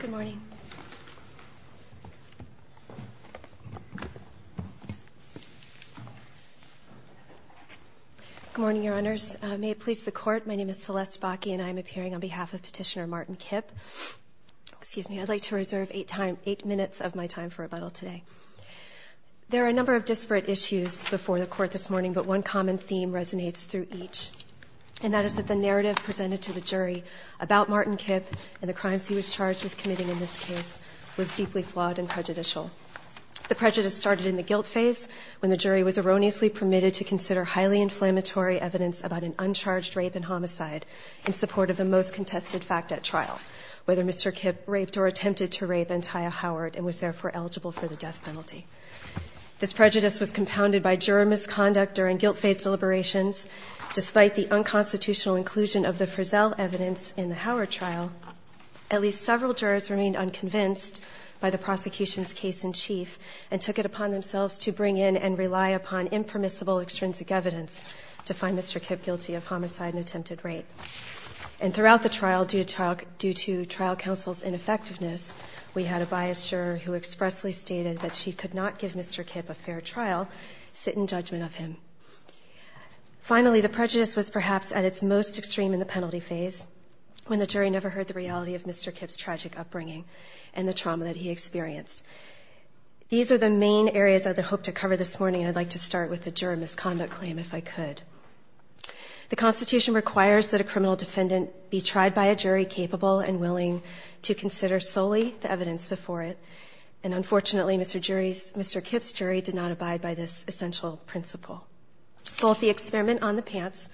Good morning, Your Honors. May it please the Court, my name is Celeste Bakke and I am appearing on behalf of Petitioner Martin Kipp. Excuse me, I'd like to reserve eight minutes of my time for rebuttal today. There are a number of disparate issues before the Court this morning, but one common theme resonates through each, and that is that the narrative presented to the jury about Martin Kipp and the crimes he was charged with committing in this case was deeply flawed and prejudicial. The prejudice started in the guilt phase, when the jury was erroneously permitted to consider highly inflammatory evidence about an uncharged rape and homicide in support of the most contested fact at trial, whether Mr. Kipp raped or attempted to rape Antia Howard and was therefore eligible for the death penalty. This prejudice was compounded by juror misconduct during guilt phase deliberations, despite the unconstitutional inclusion of the Frizzell evidence in the Howard trial, at least several jurors remained unconvinced by the prosecution's case-in-chief and took it upon themselves to bring in and rely upon impermissible extrinsic evidence to find Mr. Kipp guilty of homicide and attempted rape. And throughout the trial, due to trial counsel's ineffectiveness, we had a biased juror who expressly stated that she could not give Mr. Kipp a fair trial, sit in judgment of him. Finally, the prejudice was perhaps at its most extreme in the penalty phase, when the jury never heard the reality of Mr. Kipp's tragic upbringing and the trauma that he experienced. These are the main areas of the hope to cover this morning. I'd like to start with the juror misconduct claim, if I could. The Constitution requires that a criminal defendant be tried by a jury capable and willing to consider solely the evidence before it. And unfortunately, Mr. Kipp's jury did not abide by this essential principle. Both the experiment on the pants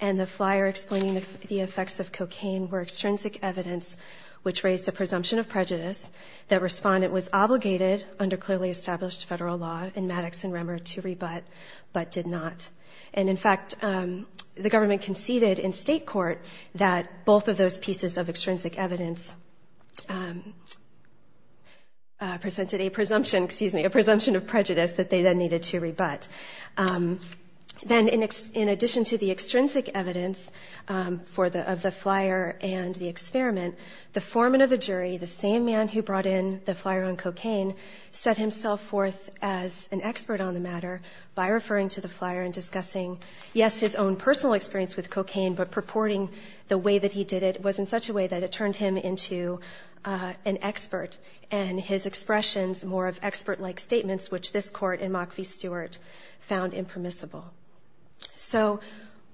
and the flyer explaining the effects of cocaine were extrinsic evidence which raised a presumption of prejudice that respondent was obligated, under clearly established federal law in Maddox and Remmer, to rebut, but did not. And in fact, the government conceded in state court that both of those pieces of extrinsic evidence presented a presumption of prejudice that they then needed to rebut. Then, in addition to the extrinsic evidence of the flyer and the experiment, the foreman of the jury, the same man who brought in the flyer on cocaine, set himself forth as an expert on the matter by referring to the flyer and discussing, yes, his own personal experience with cocaine, but purporting the way that he did it was in such a way that it turned him into an expert, and his expressions more of expert-like statements, which this Court in Mock v. Stewart found impermissible. So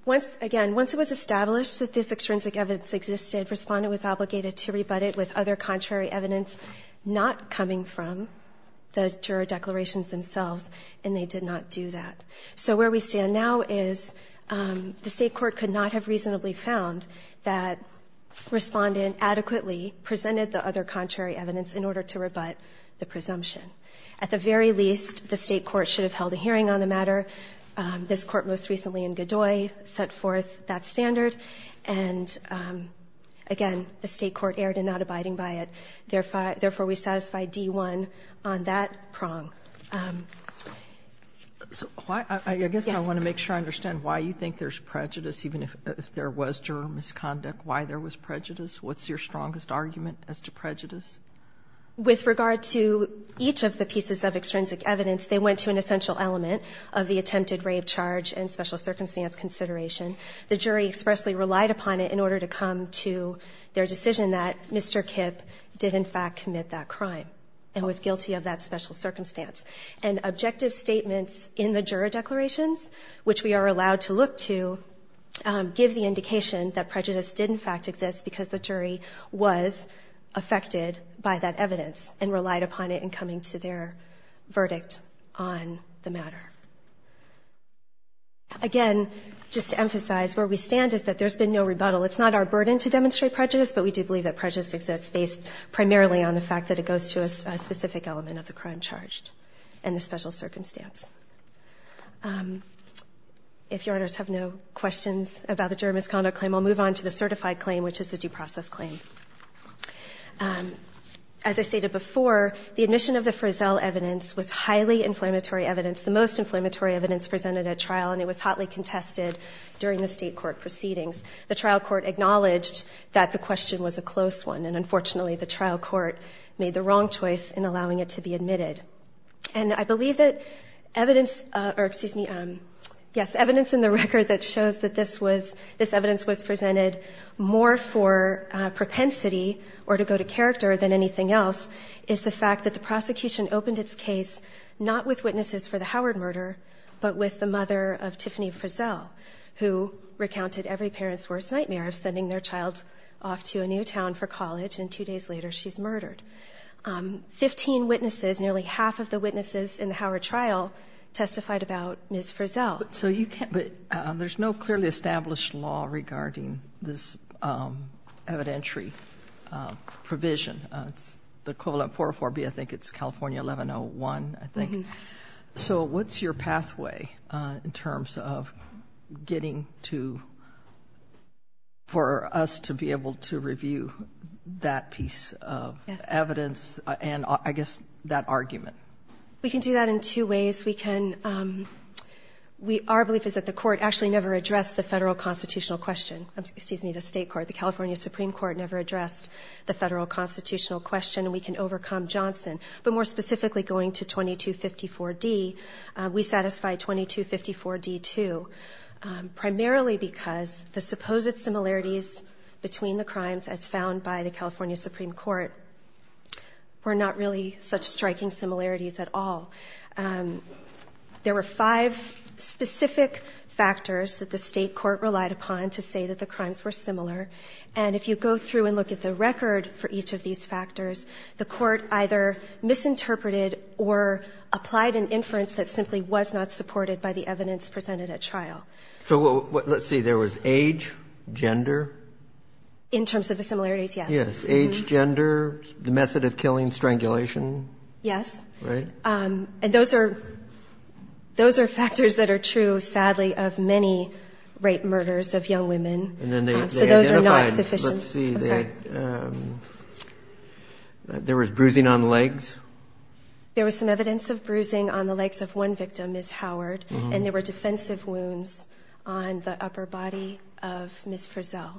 once, again, once it was established that this extrinsic evidence existed, Respondent was obligated to rebut it with other contrary evidence not coming from the juror declarations themselves, and they did not do that. So where we stand now is the State court could not have reasonably found that Respondent adequately presented the other contrary evidence in order to rebut the presumption. At the very least, the State court should have held a hearing on the matter. This Court most recently in Godoy set forth that standard, and again, the State court erred in not abiding by it. Therefore, we satisfy D-1 on that prong. Sotomayor, I guess I want to make sure I understand why you think there's prejudice, even if there was juror misconduct, why there was prejudice? What's your strongest argument as to prejudice? With regard to each of the pieces of extrinsic evidence, they went to an essential element of the attempted rape charge and special circumstance consideration. The jury expressly relied upon it in order to come to their decision that Mr. Kipp did in fact commit that crime and was guilty of that special circumstance. And objective statements in the juror declarations, which we are allowed to look to, give the indication that prejudice did in fact exist because the jury was affected by that evidence and relied upon it in coming to their verdict on the matter. Again, just to emphasize, where we stand is that there's been no rebuttal. It's not our burden to demonstrate prejudice, but we do believe that prejudice exists based primarily on the fact that it goes to a specific element of the crime charged and the special circumstance. If Your Honors have no questions about the juror misconduct claim, I'll move on to the certified claim, which is the due process claim. As I stated before, the admission of the Frizzell evidence was highly inflammatory evidence, the most inflammatory evidence presented at trial, and it was hotly contested during the state court proceedings. The trial court acknowledged that the question was a close one, and unfortunately the trial court made the wrong choice in allowing it to be admitted. And I believe that evidence or excuse me, yes, evidence in the record that shows that this was, this evidence was presented more for propensity or to go to character than anything else is the fact that the prosecution opened its case not with witnesses for the Howard murder, but with the mother of Tiffany Frizzell, who recounted every parent's worst nightmare of sending their child off to a new town for college and two days later she's murdered. Fifteen witnesses, nearly half of the witnesses in the Howard trial testified about Ms. Frizzell. But so you can't, but there's no clearly established law regarding this evidentiary provision, it's the equivalent of 404B, I think it's California 1101, I think. So what's your pathway in terms of getting to, for us to be able to review that piece of evidence and I guess that argument? We can do that in two ways. We can, our belief is that the court actually never addressed the federal constitutional question, excuse me, the state court, the California Supreme Court never addressed the federal constitutional question and we can overcome Johnson, but more specifically going to 2254D, we satisfy 2254D too, primarily because the supposed similarities between the crimes as found by the California Supreme Court were not really such striking similarities at all. There were five specific factors that the state court relied upon to say that the crimes were similar and if you go through and look at the record for each of these five factors, the court either misinterpreted or applied an inference that simply was not supported by the evidence presented at trial. So let's see, there was age, gender? In terms of the similarities, yes. Yes. Age, gender, the method of killing, strangulation? Yes. Right? And those are factors that are true, sadly, of many rape murders of young women. So those are not sufficient. Let's see, there was bruising on the legs? There was some evidence of bruising on the legs of one victim, Ms. Howard, and there were defensive wounds on the upper body of Ms. Frizzell.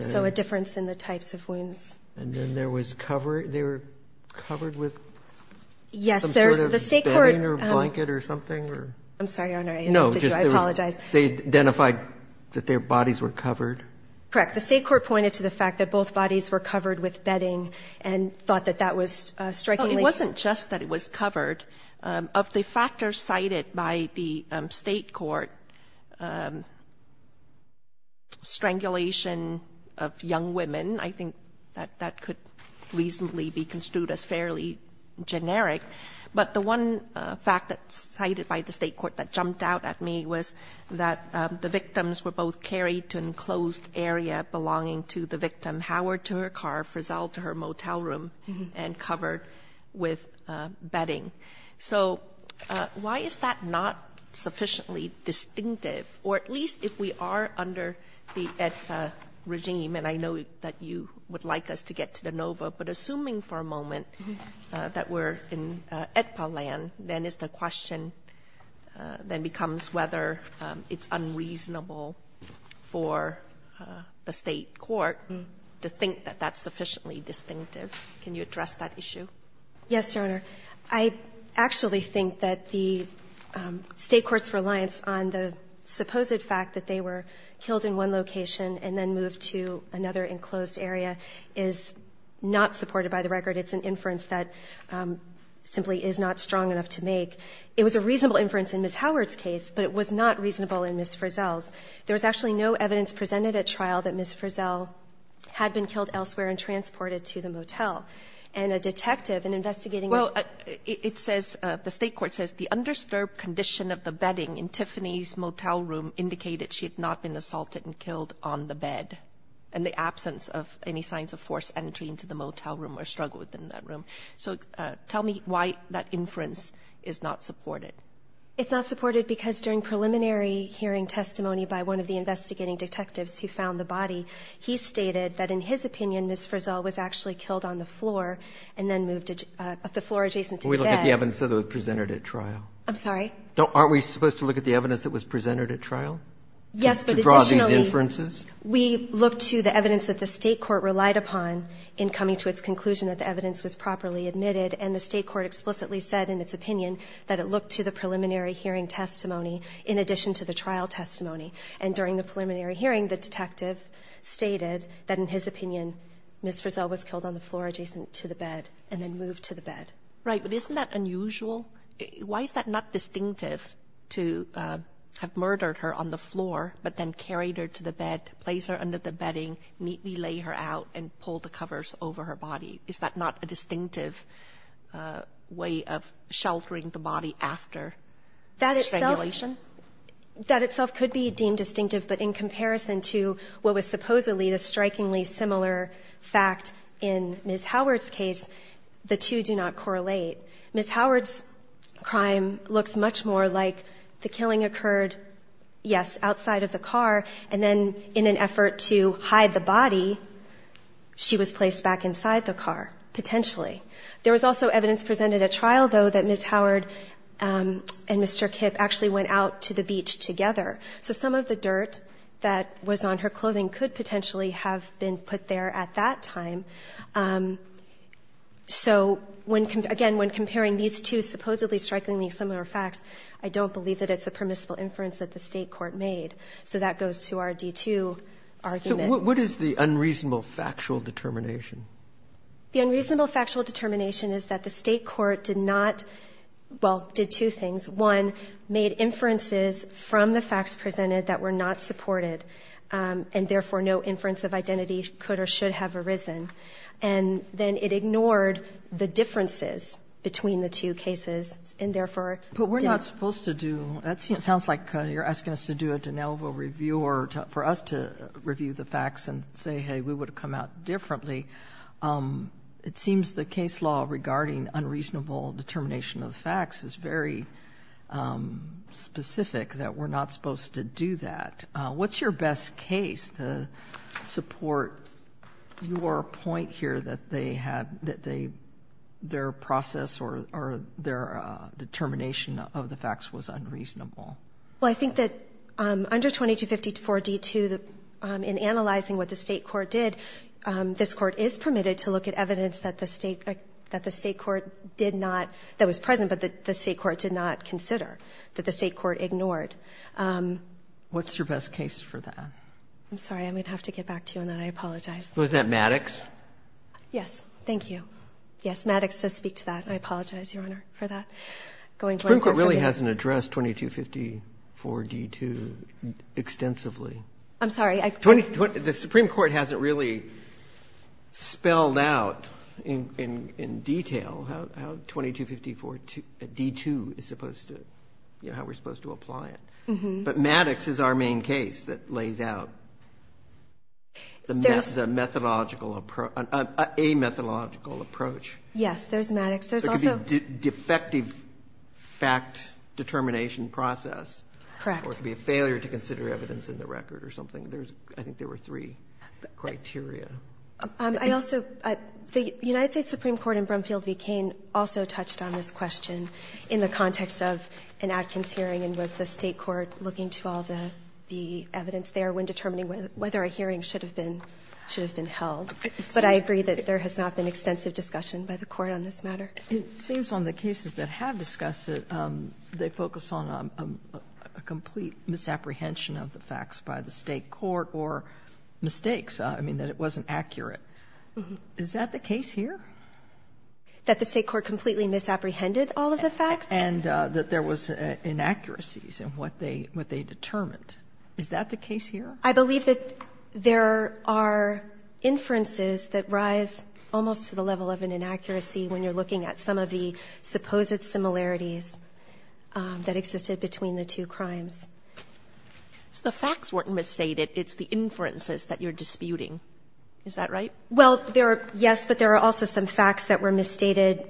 So a difference in the types of wounds. And then there was cover, they were covered with some sort of bedding or blanket or something? I'm sorry, Your Honor, I apologize. They identified that their bodies were covered? Correct. The State court pointed to the fact that both bodies were covered with bedding and thought that that was strangulation. Well, it wasn't just that it was covered. Of the factors cited by the State court, strangulation of young women, I think that that could reasonably be construed as fairly generic. But the one fact that's cited by the State court that jumped out at me was that the victim, Ms. Howard, to her car, Ms. Frizzell to her motel room, and covered with bedding. So why is that not sufficiently distinctive? Or at least if we are under the AEDPA regime, and I know that you would like us to get to the NOVA, but assuming for a moment that we're in AEDPA land, then is the question then becomes whether it's unreasonable for the State court to think that that's sufficiently distinctive. Can you address that issue? Yes, Your Honor. I actually think that the State court's reliance on the supposed fact that they were killed in one location and then moved to another enclosed area is not supported by the record. It's an inference that simply is not strong enough to make. It was a reasonable inference in Ms. Howard's case, but it was not reasonable in Ms. Frizzell's. There was actually no evidence presented at trial that Ms. Frizzell had been killed elsewhere and transported to the motel. And a detective in investigating a ---- Well, it says, the State court says the undisturbed condition of the bedding in Tiffany's motel room indicated she had not been assaulted and killed on the bed in the absence of any signs of forced entry into the motel room or struggle within that room. So tell me why that inference is not supported. It's not supported because during preliminary hearing testimony by one of the investigating detectives who found the body, he stated that in his opinion Ms. Frizzell was actually killed on the floor and then moved to the floor adjacent to the bed. Can we look at the evidence that was presented at trial? I'm sorry? Aren't we supposed to look at the evidence that was presented at trial? Yes, but additionally. To draw these inferences? We looked to the evidence that the State court relied upon in coming to its conclusion that the evidence was properly admitted. And the State court explicitly said in its opinion that it looked to the preliminary hearing testimony in addition to the trial testimony. And during the preliminary hearing, the detective stated that in his opinion Ms. Frizzell was killed on the floor adjacent to the bed and then moved to the bed. Right. But isn't that unusual? Why is that not distinctive to have murdered her on the floor, but then carried her to the bed, placed her under the bedding, neatly lay her out and pulled the covers over her body? Is that not a distinctive way of sheltering the body after this regulation? That itself could be deemed distinctive. But in comparison to what was supposedly the strikingly similar fact in Ms. Howard's case, the two do not correlate. Ms. Howard's crime looks much more like the killing occurred, yes, outside of the car, potentially. There was also evidence presented at trial, though, that Ms. Howard and Mr. Kipp actually went out to the beach together. So some of the dirt that was on her clothing could potentially have been put there at that time. So when, again, when comparing these two supposedly strikingly similar facts, I don't believe that it's a permissible inference that the State court made. So that goes to our D-2 argument. What is the unreasonable factual determination? The unreasonable factual determination is that the State court did not, well, did two things. One, made inferences from the facts presented that were not supported, and therefore no inference of identity could or should have arisen. And then it ignored the differences between the two cases and therefore didn't. But we're not supposed to do that. Sotomayor, it sounds like you're asking us to do a de novo review or for us to review the facts and say, hey, we would have come out differently. It seems the case law regarding unreasonable determination of facts is very specific that we're not supposed to do that. What's your best case to support your point here that they had, that they, their process or their determination of the facts was unreasonable? Well, I think that under 2254 D-2, in analyzing what the State court did, this court is permitted to look at evidence that the State court did not, that was present, but that the State court did not consider, that the State court ignored. What's your best case for that? I'm sorry. I'm going to have to get back to you on that. I apologize. Wasn't that Maddox? Yes. Thank you. Yes. Maddox does speak to that. I apologize, Your Honor, for that. The Supreme Court really hasn't addressed 2254 D-2 extensively. I'm sorry. The Supreme Court hasn't really spelled out in detail how 2254 D-2 is supposed to, you know, how we're supposed to apply it. But Maddox is our main case that lays out the methodological, a methodological approach. Yes. There's Maddox. There's also the defective fact determination process. Correct. Or it could be a failure to consider evidence in the record or something. I think there were three criteria. I also, the United States Supreme Court in Brumfield v. Cain also touched on this question in the context of an Adkins hearing, and was the State court looking to all the evidence there when determining whether a hearing should have been held. But I agree that there has not been extensive discussion by the Court on this matter. It seems on the cases that have discussed it, they focus on a complete misapprehension of the facts by the State court or mistakes. I mean, that it wasn't accurate. Is that the case here? That the State court completely misapprehended all of the facts? And that there was inaccuracies in what they determined. Is that the case here? I believe that there are inferences that rise almost to the level of an inaccuracy when you're looking at some of the supposed similarities that existed between the two crimes. So the facts weren't misstated. It's the inferences that you're disputing. Is that right? Well, there are, yes, but there are also some facts that were misstated.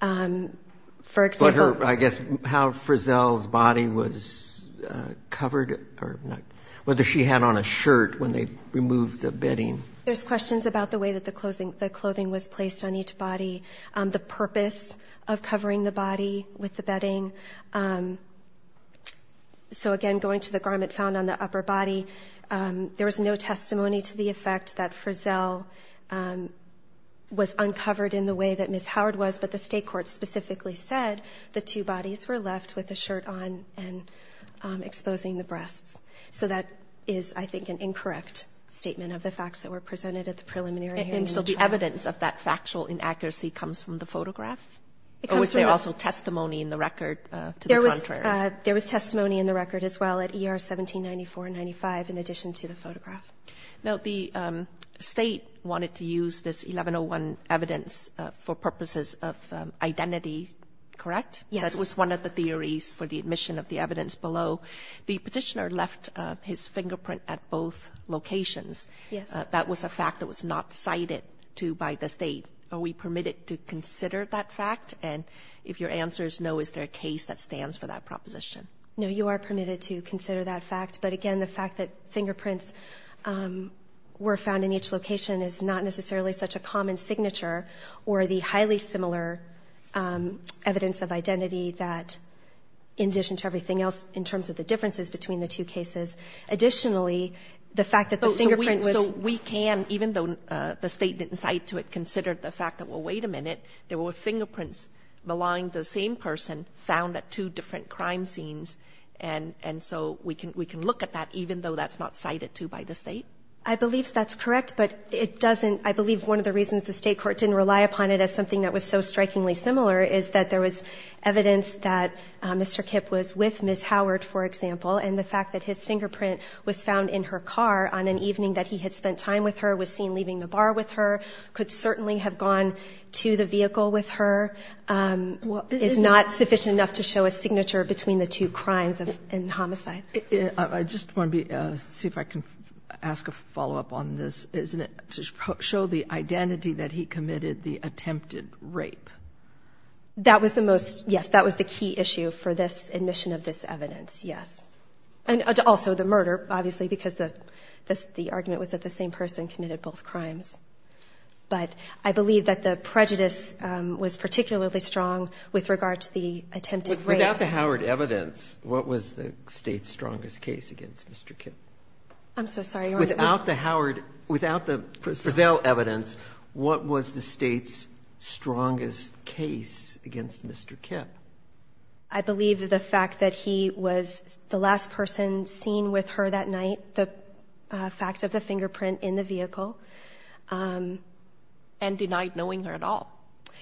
For example. What her, I guess, how Frizzell's body was covered or not, whether she had on a shirt when they removed the bedding. There's questions about the way that the clothing was placed on each body, the purpose of covering the body with the bedding. So, again, going to the garment found on the upper body, there was no testimony to the effect that Frizzell was uncovered in the way that Ms. Howard was, but the two bodies were left with the shirt on and exposing the breasts. So that is, I think, an incorrect statement of the facts that were presented at the preliminary hearing. And so the evidence of that factual inaccuracy comes from the photograph? Or was there also testimony in the record to the contrary? There was testimony in the record as well at ER 1794-95 in addition to the photograph. Now, the State wanted to use this 1101 evidence for purposes of identity, correct? Yes. That was one of the theories for the admission of the evidence below. The Petitioner left his fingerprint at both locations. Yes. That was a fact that was not cited by the State. Are we permitted to consider that fact? And if your answer is no, is there a case that stands for that proposition? No, you are permitted to consider that fact. But, again, the fact that fingerprints were found in each location is not necessarily such a common signature or the highly similar evidence of identity that, in addition to everything else in terms of the differences between the two cases. Additionally, the fact that the fingerprint was ---- So we can, even though the State didn't cite to it, consider the fact that, well, wait a minute, there were fingerprints belonging to the same person found at two different crime scenes, and so we can look at that, even though that's not cited to by the State? I believe that's correct, but it doesn't ---- I believe one of the reasons the State court didn't rely upon it as something that was so strikingly similar is that there was evidence that Mr. Kipp was with Ms. Howard, for example, and the fact that his fingerprint was found in her car on an evening that he had spent time with her, was seen leaving the bar with her, could certainly have gone to the vehicle with her, is not sufficient enough to show a signature between the two crimes in homicide. I just want to see if I can ask a follow-up on this. Isn't it to show the identity that he committed the attempted rape? That was the most, yes, that was the key issue for this admission of this evidence, yes, and also the murder, obviously, because the argument was that the same person committed both crimes. But I believe that the prejudice was particularly strong with regard to the attempted rape. Without the Howard evidence, what was the State's strongest case against Mr. Kipp? I'm so sorry. Without the Howard ---- without the Frizzell evidence, what was the State's strongest case against Mr. Kipp? I believe that the fact that he was the last person seen with her that night, the fact of the fingerprint in the vehicle. And denied knowing her at all.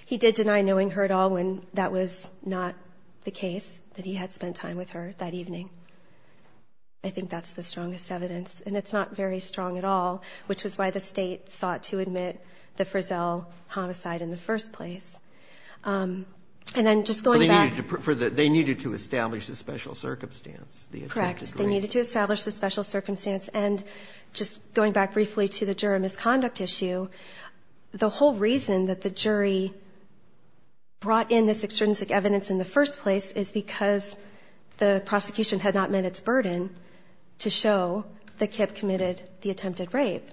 He did deny knowing her at all when that was not the case, that he had spent time with her that evening. I think that's the strongest evidence. And it's not very strong at all, which was why the State sought to admit the Frizzell homicide in the first place. And then just going back ---- But they needed to establish the special circumstance, the attempted rape. Correct. They needed to establish the special circumstance. And just going back briefly to the juror misconduct issue, the whole reason that the jury brought in this extrinsic evidence in the first place is because the prosecution had not met its burden to show that Kipp committed the attempted rape.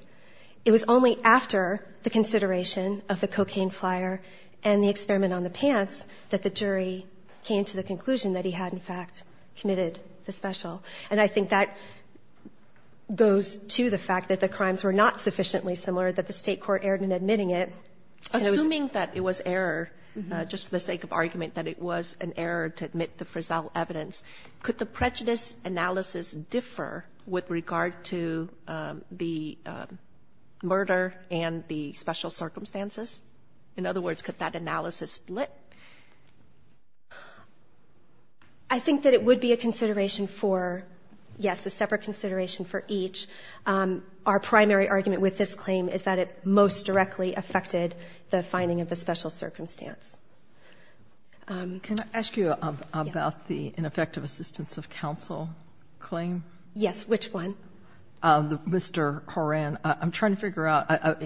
It was only after the consideration of the cocaine flyer and the experiment on the pants that the jury came to the conclusion that he had, in fact, committed the special. And I think that goes to the fact that the crimes were not sufficiently similar, that the State court erred in admitting it. Assuming that it was error, just for the sake of argument, that it was an error to admit the Frizzell evidence, could the prejudice analysis differ with regard to the murder and the special circumstances? In other words, could that analysis split? I think that it would be a consideration for, yes, a separate consideration for each. Our primary argument with this claim is that it most directly affected the finding of the special circumstance. Can I ask you about the ineffective assistance of counsel claim? Yes. Which one? Mr. Horan. I'm trying to figure out.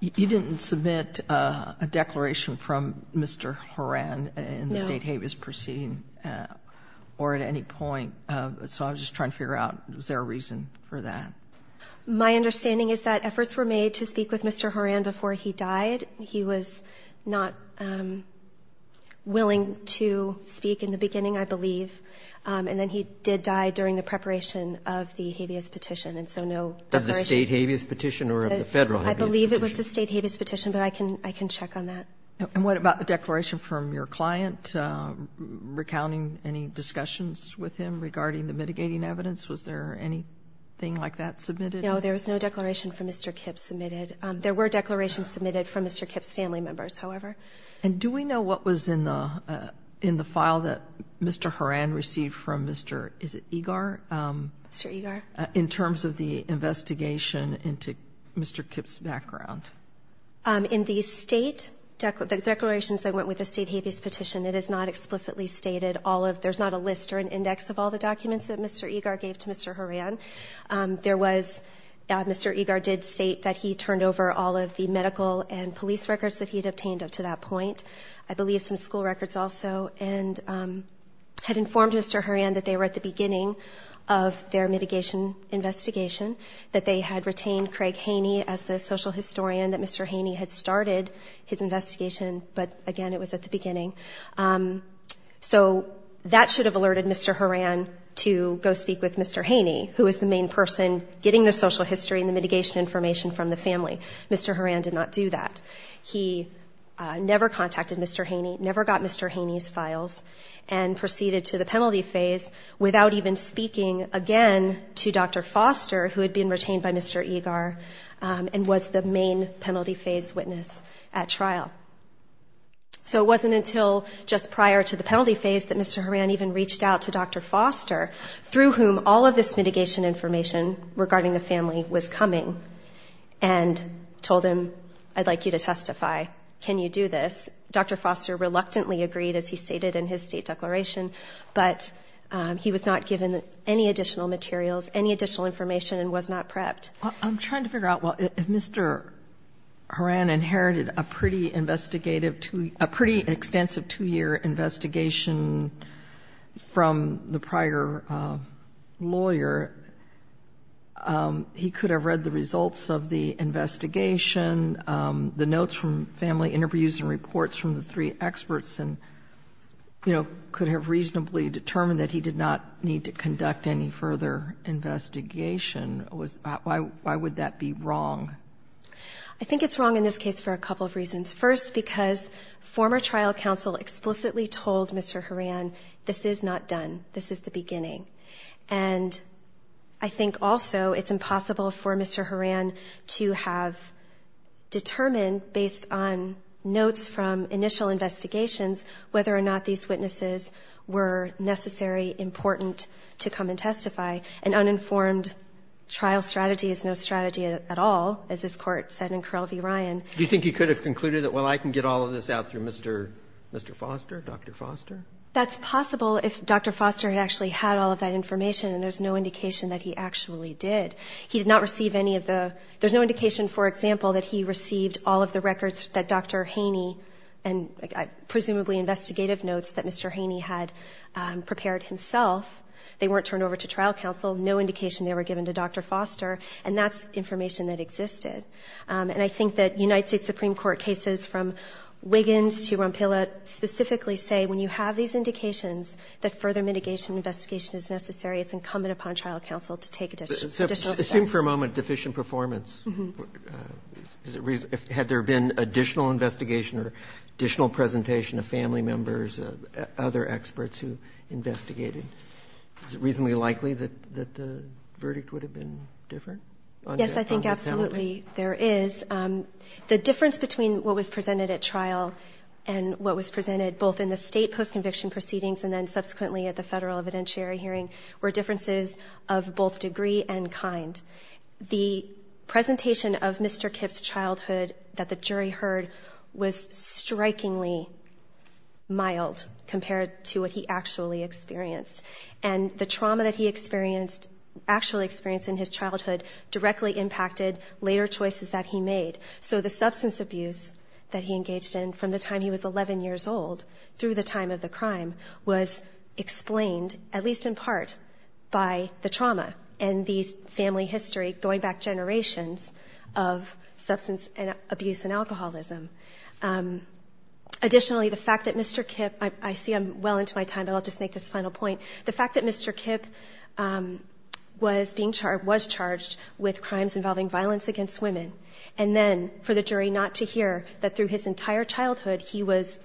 You didn't submit a declaration from Mr. Horan in the State habeas proceeding or at any point. So I was just trying to figure out, was there a reason for that? My understanding is that efforts were made to speak with Mr. Horan before he died. He was not willing to speak in the beginning, I believe. And then he did die during the preparation of the habeas petition, and so no declaration. Of the State habeas petition or of the Federal habeas petition? I believe it was the State habeas petition, but I can check on that. And what about the declaration from your client, recounting any discussions with him regarding the mitigating evidence? Was there anything like that submitted? No, there was no declaration from Mr. Kipp submitted. There were declarations submitted from Mr. Kipp's family members, however. And do we know what was in the file that Mr. Horan received from Mr. Egar? Mr. Egar? In terms of the investigation into Mr. Kipp's background. In the State declarations that went with the State habeas petition, it is not explicitly stated all of, there's not a list or an index of all the documents that Mr. Egar gave to Mr. Horan. There was, Mr. Egar did state that he turned over all of the medical and police records that he had obtained up to that point. I believe some school records also, and had informed Mr. Horan that they were at the beginning of their mitigation investigation, that they had retained Craig Haney as the social historian, that Mr. Haney had started his investigation, but again it was at the beginning. So that should have alerted Mr. Horan to go speak with Mr. Haney, who was the main person getting the social history and the mitigation information from the family. Mr. Horan did not do that. He never contacted Mr. Haney, never got Mr. Haney's files, and proceeded to the penalty phase without even speaking again to Dr. Foster, who had been retained by Mr. Egar and was the main penalty phase witness at trial. So it wasn't until just prior to the penalty phase that Mr. Horan even reached out to Dr. Foster, through whom all of this mitigation information regarding the family was coming, and told him, I'd like you to testify. Can you do this? Dr. Foster reluctantly agreed, as he stated in his state declaration, but he was not given any additional materials, any additional information, and was not prepped. I'm trying to figure out, well, if Mr. Horan inherited a pretty investigative two-year, a pretty extensive two-year investigation from the prior lawyer, he could have read the results of the investigation, the notes from family interviews and reports from the three experts and, you know, could have reasonably determined that he did not need to conduct any further investigation. Why would that be wrong? I think it's wrong in this case for a couple of reasons. First, because former trial counsel explicitly told Mr. Horan, this is not done. This is the beginning. And I think also it's impossible for Mr. Horan to have determined, based on notes from initial investigations, whether or not these witnesses were necessary, important to come and testify. An uninformed trial strategy is no strategy at all, as this Court said in Correll v. Ryan. Do you think he could have concluded that, well, I can get all of this out through Mr. Foster, Dr. Foster? That's possible if Dr. Foster had actually had all of that information, and there's no indication that he actually did. He did not receive any of the – there's no indication, for example, that he received all of the records that Dr. Haney and presumably investigative notes that Mr. Haney had prepared himself. They weren't turned over to trial counsel. No indication they were given to Dr. Foster. And that's information that existed. And I think that United States Supreme Court cases from Wiggins to Rompilla specifically say when you have these indications, that further mitigation investigation is necessary. It's incumbent upon trial counsel to take additional steps. Assume for a moment deficient performance. Had there been additional investigation or additional presentation of family members, other experts who investigated, is it reasonably likely that the verdict would have been different? Yes, I think absolutely there is. The difference between what was presented at trial and what was presented both in the State post-conviction proceedings and then subsequently at the Federal The presentation of Mr. Kipp's childhood that the jury heard was strikingly mild compared to what he actually experienced. And the trauma that he experienced, actually experienced in his childhood, directly impacted later choices that he made. So the substance abuse that he engaged in from the time he was 11 years old through the time of the crime was explained, at least in part, by the trauma and the family history going back generations of substance abuse and alcoholism. Additionally, the fact that Mr. Kipp, I see I'm well into my time, but I'll just make this final point. The fact that Mr. Kipp was being charged, was charged with crimes involving violence against women, and then for the jury not to hear that through his entire childhood he was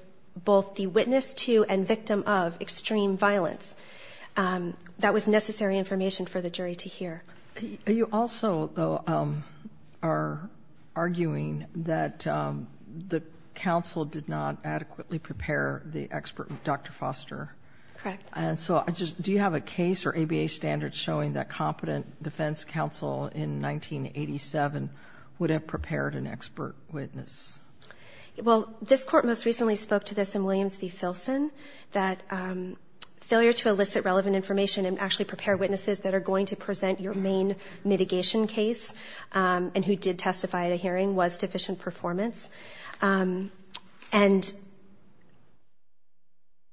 both the witness to and victim of extreme violence. That was necessary information for the jury to hear. Are you also, though, are arguing that the counsel did not adequately prepare the expert, Dr. Foster? Correct. And so do you have a case or ABA standards showing that competent defense counsel in 1987 would have prepared an expert witness? Well, this Court most recently spoke to this in Williams v. Filson, that failure to elicit relevant information and actually prepare witnesses that are going to present your main mitigation case and who did testify at a hearing was deficient performance. And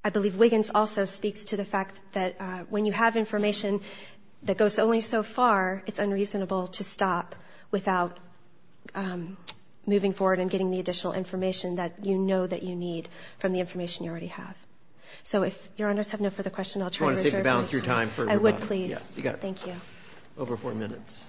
I believe Wiggins also speaks to the fact that when you have information that goes only so far, it's unreasonable to stop without moving forward and getting the additional information that you know that you need from the information you already have. So if Your Honors have no further questions, I'll try to reserve my time. Do you want to take the balance of your time for rebuttal? I would, please. Yes. You got it. Thank you. Over four minutes.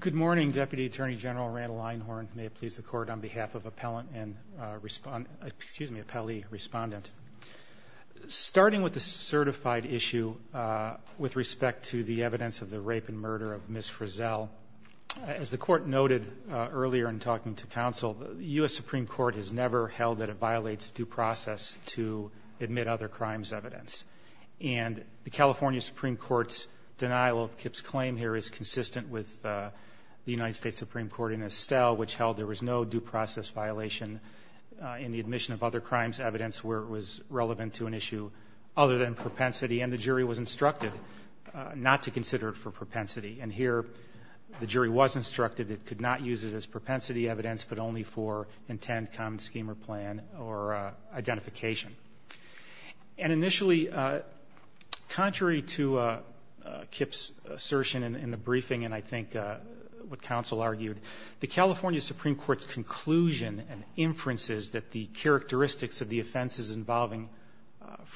Good morning, Deputy Attorney General Randall Einhorn. May it please the Court, on behalf of appellee respondent. Starting with the certified issue with respect to the evidence of the rape and murder of Ms. Frazell, as the Court noted earlier in talking to counsel, the U.S. Supreme Court has never held that it violates due process to admit other crimes evidence. And the California Supreme Court's denial of Kip's claim here is consistent with the United States Supreme Court in Estelle, which held there was no due process violation in the admission of other crimes evidence where it was relevant to an issue other than propensity. And the jury was instructed not to consider it for propensity. And here the jury was instructed it could not use it as propensity evidence, but only for intent, common scheme or plan or identification. And initially, contrary to Kip's assertion in the briefing and I think what the Supreme Court's conclusion and inferences that the characteristics of the offenses involving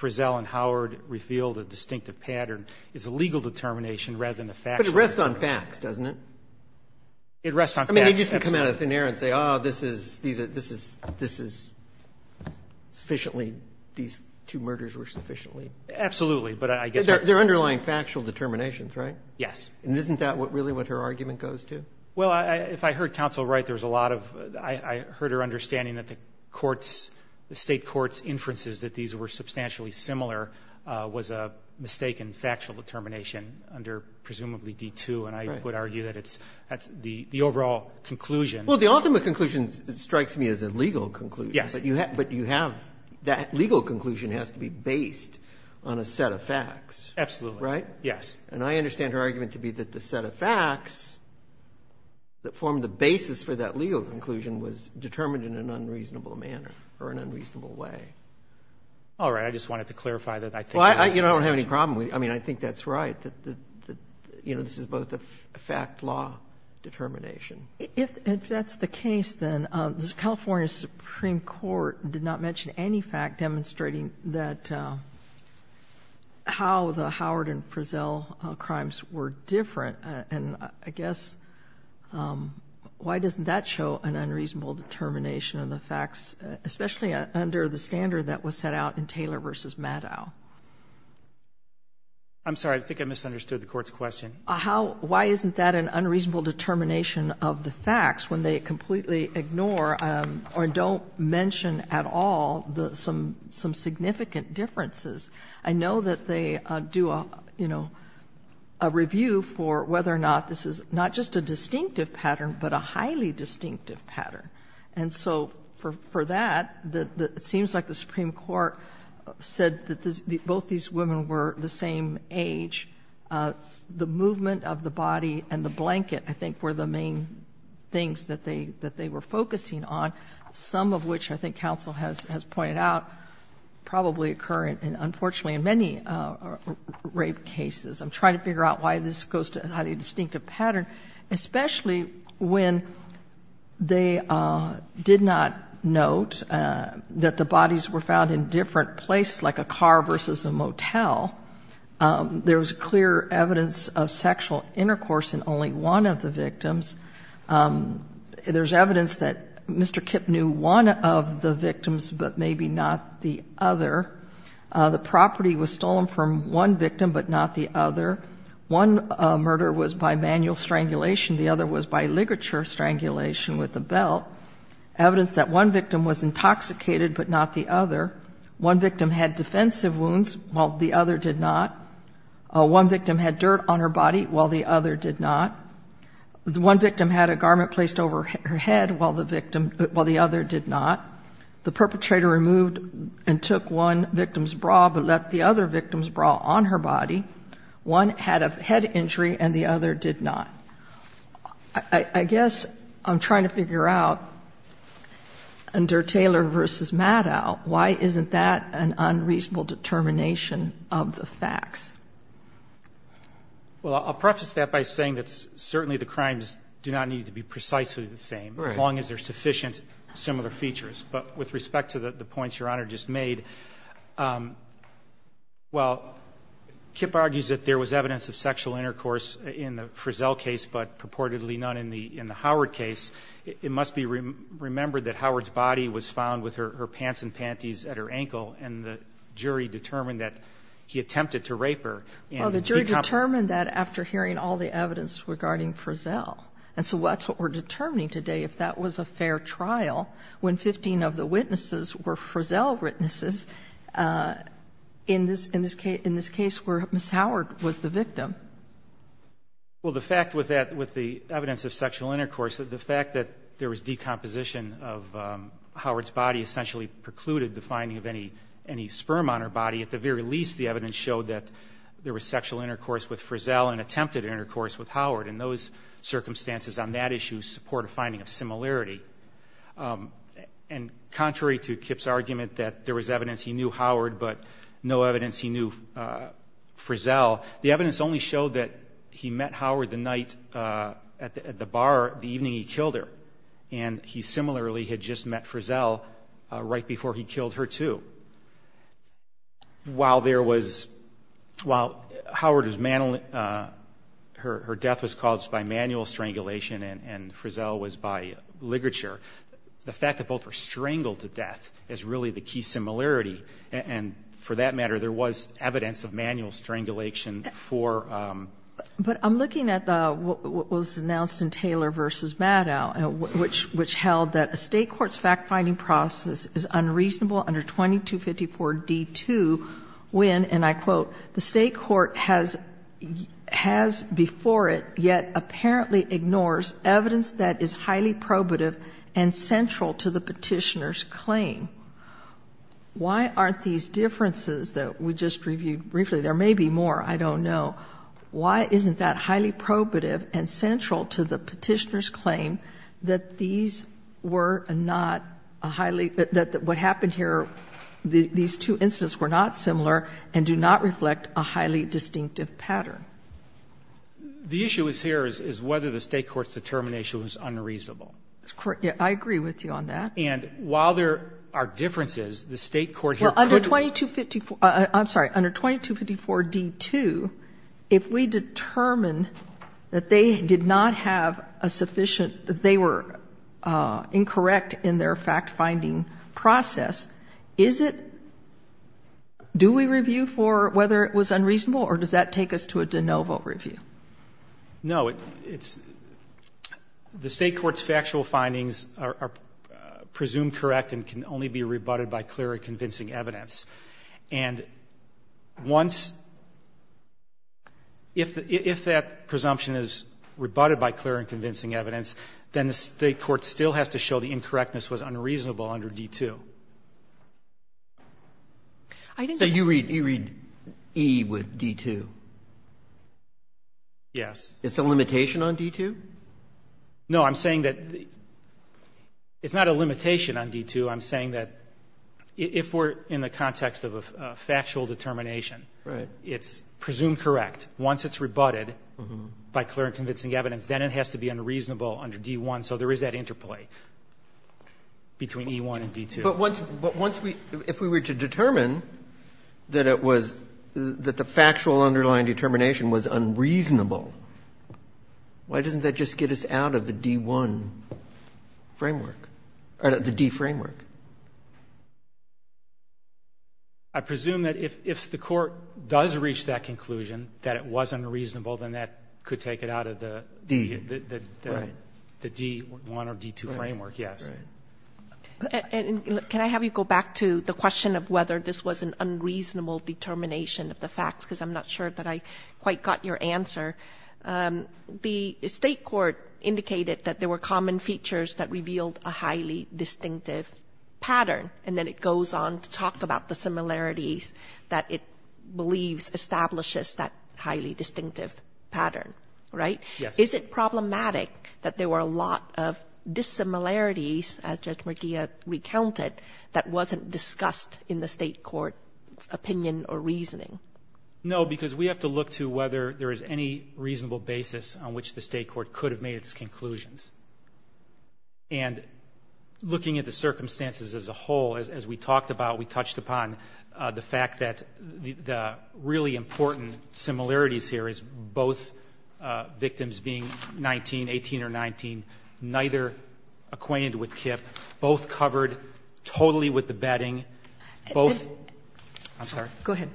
Frazell and Howard revealed a distinctive pattern is a legal determination rather than a factual determination. But it rests on facts, doesn't it? It rests on facts. I mean, they just can come out of thin air and say, oh, this is, these are, this is, this is sufficiently, these two murders were sufficiently. Absolutely. But I guess. They're underlying factual determinations, right? Yes. And isn't that what really what her argument goes to? Well, if I heard counsel right, there's a lot of, I heard her understanding that the courts, the State courts' inferences that these were substantially similar was a mistaken factual determination under presumably D-2. And I would argue that it's, that's the overall conclusion. Well, the ultimate conclusion strikes me as a legal conclusion. Yes. But you have, that legal conclusion has to be based on a set of facts. Absolutely. Yes. And I understand her argument to be that the set of facts that form the basis for that legal conclusion was determined in an unreasonable manner or an unreasonable way. All right. I just wanted to clarify that. Well, I don't have any problem with it. I mean, I think that's right. You know, this is both a fact law determination. If that's the case, then the California Supreme Court did not mention any fact demonstrating that how the Howard and Frizzell crimes were different. And I guess, why doesn't that show an unreasonable determination of the facts, especially under the standard that was set out in Taylor v. Maddow? I'm sorry. I think I misunderstood the Court's question. How, why isn't that an unreasonable determination of the facts when they completely ignore or don't mention at all some significant differences? I know that they do a, you know, a review for whether or not this is not just a distinctive pattern, but a highly distinctive pattern. And so for that, it seems like the Supreme Court said that both these women were the same age. The movement of the body and the blanket, I think, were the main things that they were focusing on, some of which I think counsel has pointed out probably occur in, unfortunately, in many rape cases. I'm trying to figure out why this goes to a highly distinctive pattern, especially when they did not note that the bodies were found in different places, like a car versus a motel. There was clear evidence of sexual intercourse in only one of the victims. There's evidence that Mr. Kipp knew one of the victims, but maybe not the other. The property was stolen from one victim, but not the other. One murder was by manual strangulation. The other was by ligature strangulation with a belt. Evidence that one victim was intoxicated, but not the other. One victim had defensive wounds, while the other did not. One victim had dirt on her body, while the other did not. One victim had a garment placed over her head, while the other did not. The perpetrator removed and took one victim's bra, but left the other victim's bra on her body. One had a head injury, and the other did not. I guess I'm trying to figure out, under Taylor v. Maddow, why isn't that an unreasonable determination of the facts? Well, I'll preface that by saying that certainly the crimes do not need to be precisely the same, as long as there are sufficient similar features. But with respect to the points Your Honor just made, while Kipp argues that there was evidence of sexual intercourse in the Frizzell case, but purportedly none in the Howard case, it must be remembered that Howard's body was found with her The jury determined that after hearing all the evidence regarding Frizzell. And so that's what we're determining today, if that was a fair trial, when 15 of the witnesses were Frizzell witnesses in this case where Ms. Howard was the victim. Well, the fact with that, with the evidence of sexual intercourse, the fact that there was decomposition of Howard's body essentially precluded the finding of any sperm on her body, at the very least the evidence showed that there was sexual intercourse with Frizzell and attempted intercourse with Howard. And those circumstances on that issue support a finding of similarity. And contrary to Kipp's argument that there was evidence he knew Howard but no evidence he knew Frizzell, the evidence only showed that he met Howard the night at the bar, the evening he killed her. And he similarly had just met Frizzell right before he killed her, too. While there was, while Howard was, her death was caused by manual strangulation and Frizzell was by ligature, the fact that both were strangled to death is really the key similarity. And for that matter, there was evidence of manual strangulation for But I'm looking at what was announced in Taylor v. Maddow, which held that a State court's fact-finding process is unreasonable under 2254d2 when, and I quote, the State court has before it yet apparently ignores evidence that is highly probative and central to the Petitioner's claim. Why aren't these differences that we just reviewed briefly, there may be more, I don't know, why isn't that highly probative and central to the Petitioner's claim that these were not a highly, that what happened here, these two instances were not similar and do not reflect a highly distinctive pattern? The issue here is whether the State court's determination was unreasonable. I agree with you on that. And while there are differences, the State court here could Under 2254, I'm sorry, under 2254d2, if we determine that they did not have a sufficient they were incorrect in their fact-finding process, is it, do we review for whether it was unreasonable or does that take us to a de novo review? No, it's, the State court's factual findings are presumed correct and can only be rebutted by clear and convincing evidence. And once, if that presumption is rebutted by clear and convincing evidence, then the State court still has to show the incorrectness was unreasonable under d2. I think that you read, you read E with d2. Yes. It's a limitation on d2? No, I'm saying that it's not a limitation on d2. I'm saying that if we're in the context of a factual determination, it's presumed correct. Once it's rebutted by clear and convincing evidence, then it has to be unreasonable under d1. So there is that interplay between E1 and d2. But once we, if we were to determine that it was, that the factual underlying determination was unreasonable, why doesn't that just get us out of the d1 framework or the d framework? I presume that if the Court does reach that conclusion, that it was unreasonable, then that could take it out of the d1 or d2 framework, yes. And can I have you go back to the question of whether this was an unreasonable determination of the facts, because I'm not sure that I quite got your answer. The State court indicated that there were common features that revealed a highly distinctive pattern, and then it goes on to talk about the similarities that it believes establishes that highly distinctive pattern, right? Yes. Is it problematic that there were a lot of dissimilarities, as Judge Murdia recounted, that wasn't discussed in the State court's opinion or reasoning? No, because we have to look to whether there is any reasonable basis on which the State court could have made its conclusions. And looking at the circumstances as a whole, as we talked about, we touched upon the fact that the really important similarities here is both victims being 19, 18 or 19, neither acquainted with Kip, both covered totally with the bedding, both. I'm sorry. Go ahead.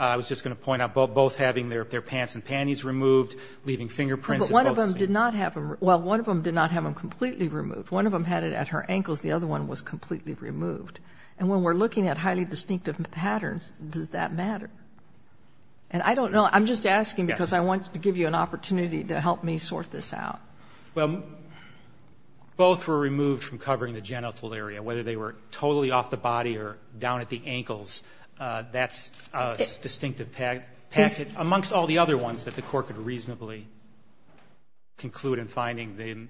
I was just going to point out both having their pants and panties removed, leaving fingerprints at both seams. But one of them did not have them removed. Well, one of them did not have them completely removed. One of them had it at her ankles. The other one was completely removed. And when we're looking at highly distinctive patterns, does that matter? And I don't know. I'm just asking because I want to give you an opportunity to help me sort this out. Well, both were removed from covering the genital area, whether they were totally off the body or down at the ankles, that's a distinctive pattern, amongst all the other ones that the Court could reasonably conclude in finding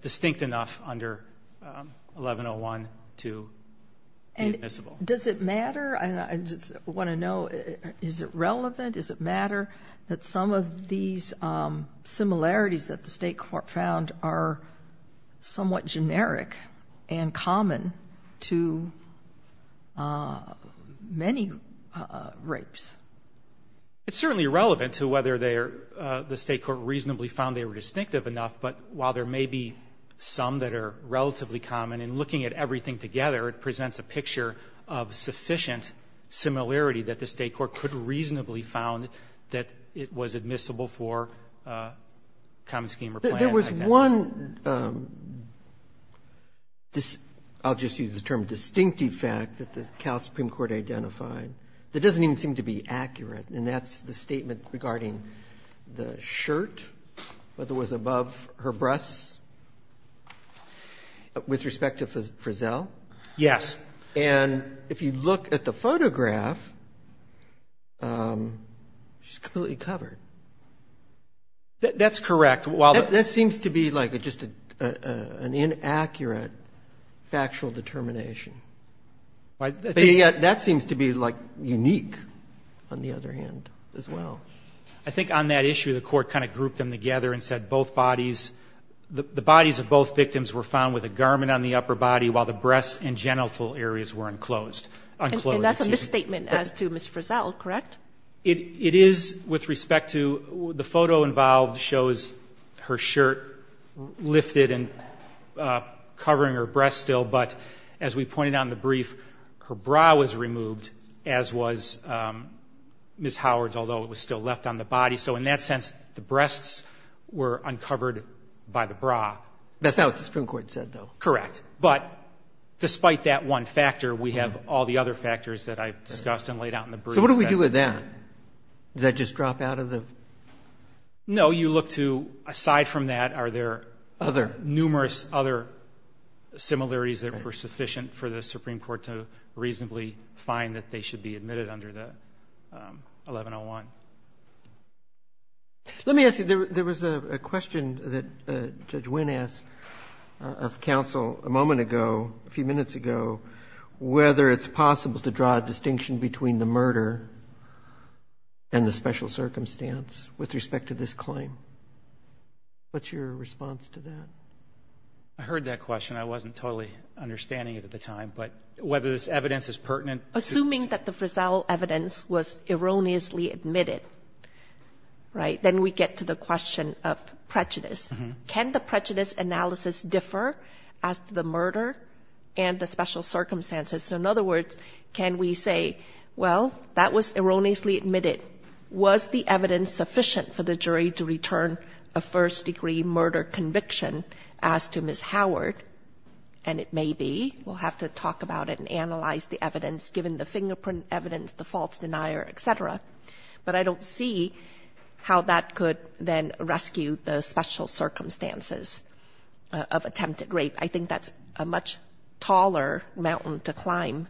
distinct enough under 1101 to be admissible. And does it matter? I just want to know, is it relevant? Is it matter that some of these similarities that the State court found are somewhat generic and common to many rapes? It's certainly relevant to whether the State court reasonably found they were distinctive enough, but while there may be some that are relatively common, in looking at everything together, it presents a picture of sufficient similarity that the State court could reasonably found that it was admissible for common scheme or plan. There was one, I'll just use the term distinctive fact that the Cal Supreme Court identified that doesn't even seem to be accurate, and that's the statement regarding the shirt that was above her breasts with respect to Frizzell. Yes. And if you look at the photograph, she's completely covered. That's correct. That seems to be like just an inaccurate factual determination. That seems to be like unique, on the other hand, as well. I think on that issue the Court kind of grouped them together and said both bodies, the bodies of both victims were found with a garment on the upper body while the genital areas were enclosed. And that's a misstatement as to Ms. Frizzell, correct? It is with respect to the photo involved shows her shirt lifted and covering her breasts still, but as we pointed out in the brief, her bra was removed as was Ms. Howard's, although it was still left on the body. So in that sense, the breasts were uncovered by the bra. That's not what the Supreme Court said, though. Correct. But despite that one factor, we have all the other factors that I've discussed and laid out in the brief. So what do we do with that? Does that just drop out of the? No. You look to, aside from that, are there numerous other similarities that were sufficient for the Supreme Court to reasonably find that they should be admitted under the 1101? Let me ask you, there was a question that Judge Wynn asked of counsel a moment ago, a few minutes ago, whether it's possible to draw a distinction between the murder and the special circumstance with respect to this claim. What's your response to that? I heard that question. I wasn't totally understanding it at the time. But whether this evidence is pertinent? Assuming that the Frizzell evidence was erroneously admitted, right, then we get to the question of prejudice. Can the prejudice analysis differ as to the murder and the special circumstances? So in other words, can we say, well, that was erroneously admitted. Was the evidence sufficient for the jury to return a first-degree murder conviction as to Ms. Howard? And it may be. We'll have to talk about it and analyze the evidence, given the fingerprint evidence, the false denier, et cetera. But I don't see how that could then rescue the special circumstances of attempted rape. I think that's a much taller mountain to climb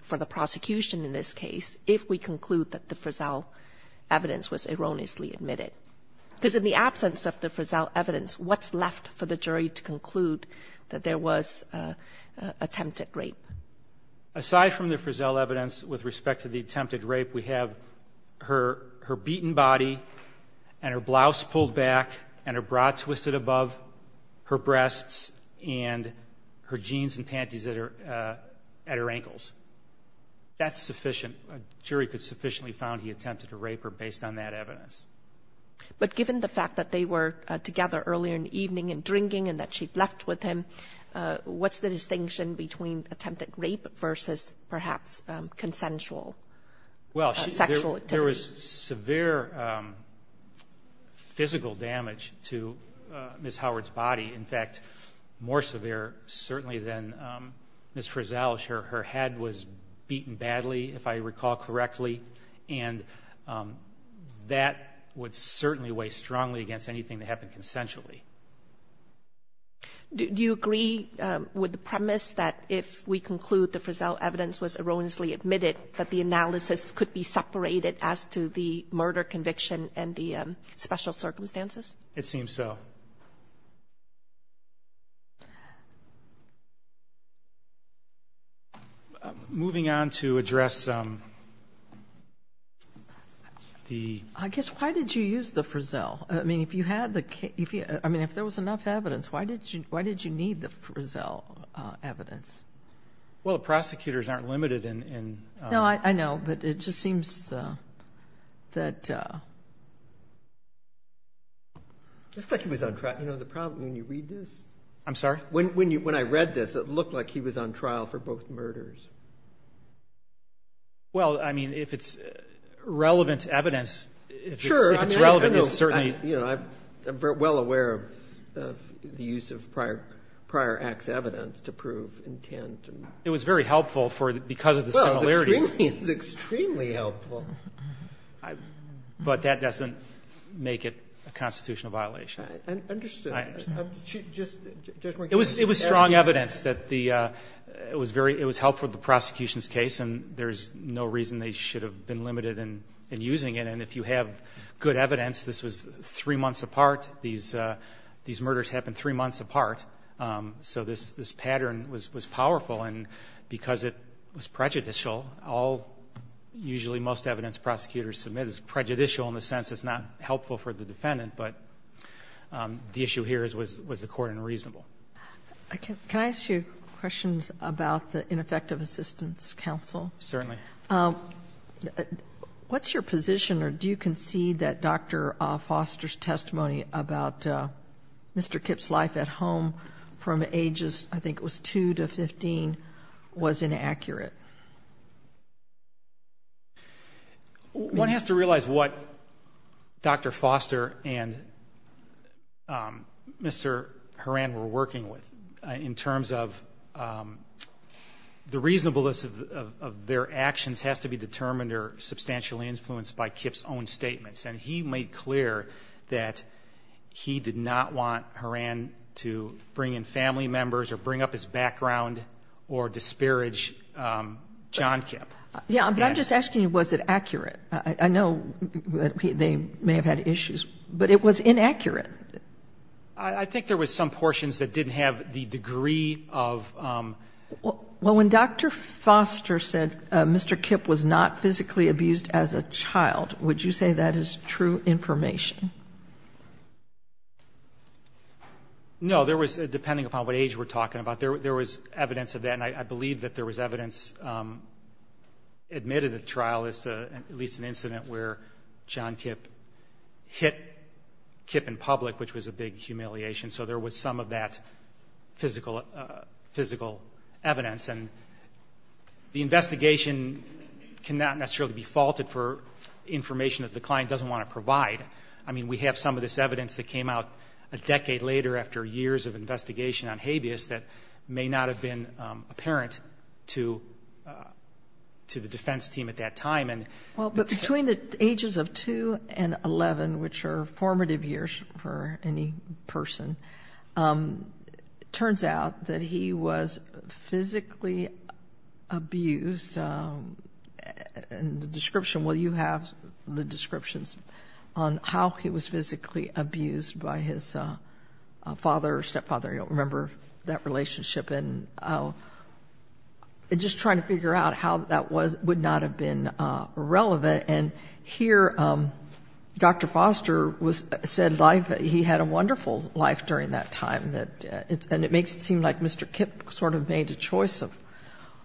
for the prosecution in this case if we conclude that the Frizzell evidence was erroneously admitted. Because in the absence of the Frizzell evidence, what's left for the jury to conclude that there was attempted rape? Aside from the Frizzell evidence with respect to the attempted rape, we have her beaten body and her blouse pulled back and her bra twisted above, her breasts and her jeans and panties at her ankles. That's sufficient. A jury could sufficiently found he attempted to rape her based on that evidence. But given the fact that they were together earlier in the evening and drinking and that she'd left with him, what's the distinction between attempted rape versus perhaps consensual sexual activity? Well, there was severe physical damage to Ms. Howard's body. In fact, more severe certainly than Ms. Frizzell. Her head was beaten badly, if I recall correctly. And that would certainly weigh strongly against anything that happened consensually. Do you agree with the premise that if we conclude the Frizzell evidence was erroneously admitted, that the analysis could be separated as to the murder conviction and the special circumstances? It seems so. Moving on to address the... I guess, why did you use the Frizzell? I mean, if you had the... I mean, if there was enough evidence, why did you need the Frizzell evidence? Well, prosecutors aren't limited in... No, I know. But it just seems that... It's like he was on trial. You know, the problem when you read this... I'm sorry? When I read this, it looked like he was on trial for both murders. Well, I mean, if it's relevant evidence... Sure. If it's relevant, it's certainly... You know, I'm well aware of the use of prior act's evidence to prove intent. It was very helpful because of the similarities. Well, it's extremely helpful. But that doesn't make it a constitutional violation. I understand. I understand. Just... It was strong evidence that the... It was helpful in the prosecution's case, and there's no reason they should have been limited in using it. And if you have good evidence, this was three months apart. These murders happened three months apart. So this pattern was powerful. And because it was prejudicial, all, usually most evidence prosecutors submit is prejudicial in the sense it's not helpful for the defendant. But the issue here was the court unreasonable. Can I ask you questions about the ineffective assistance counsel? Certainly. What's your position, or do you concede that Dr. Foster's testimony about Mr. Kipp's life at home from ages, I think it was 2 to 15, was inaccurate? One has to realize what Dr. Foster and Mr. Horan were working with in terms of the reasonableness of their actions has to be determined or substantially influenced by Kipp's own statements. And he made clear that he did not want Horan to bring in family members or bring up his background or disparage John Kipp. Yeah, but I'm just asking you, was it accurate? I know they may have had issues. But it was inaccurate. I think there was some portions that didn't have the degree of ---- Well, when Dr. Foster said Mr. Kipp was not physically abused as a child, would you say that is true information? No. There was, depending upon what age we're talking about, there was evidence of that, and I believe that there was evidence admitted at trial as to at least an incident where John Kipp hit Kipp in public, which was a big humiliation. So there was some of that physical evidence. And the investigation cannot necessarily be faulted for information that the client doesn't want to provide. I mean, we have some of this evidence that came out a decade later after years of investigation on habeas that may not have been apparent to the defense team at that time. Well, between the ages of 2 and 11, which are formative years for any person, it turns out that he was physically abused. And the description, well, you have the descriptions on how he was physically abused by his father or stepfather. I don't remember that relationship. And just trying to figure out how that would not have been relevant. And here, Dr. Foster said he had a wonderful life during that time. And it makes it seem like Mr. Kipp sort of made a choice of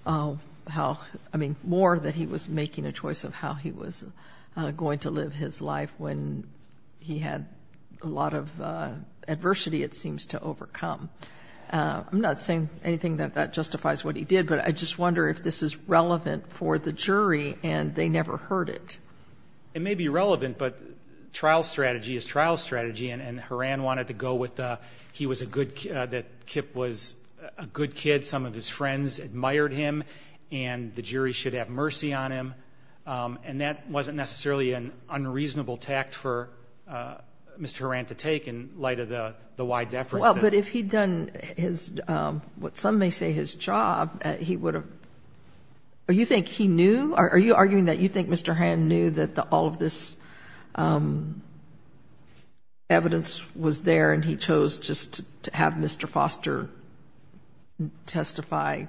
how, I mean, more that he was making a choice of how he was going to live his life when he had a lot of adversity, it seems, to overcome. I'm not saying anything that justifies what he did, but I just wonder if this is relevant for the jury and they never heard it. It may be relevant, but trial strategy is trial strategy. And Horan wanted to go with that Kipp was a good kid. Some of his friends admired him. And the jury should have mercy on him. And that wasn't necessarily an unreasonable tact for Mr. Horan to take in light of the wide efforts. Well, but if he had done his, what some may say his job, he would have, or you think he knew, are you arguing that you think Mr. Horan knew that all of this evidence was there and he chose just to have Mr. Foster testify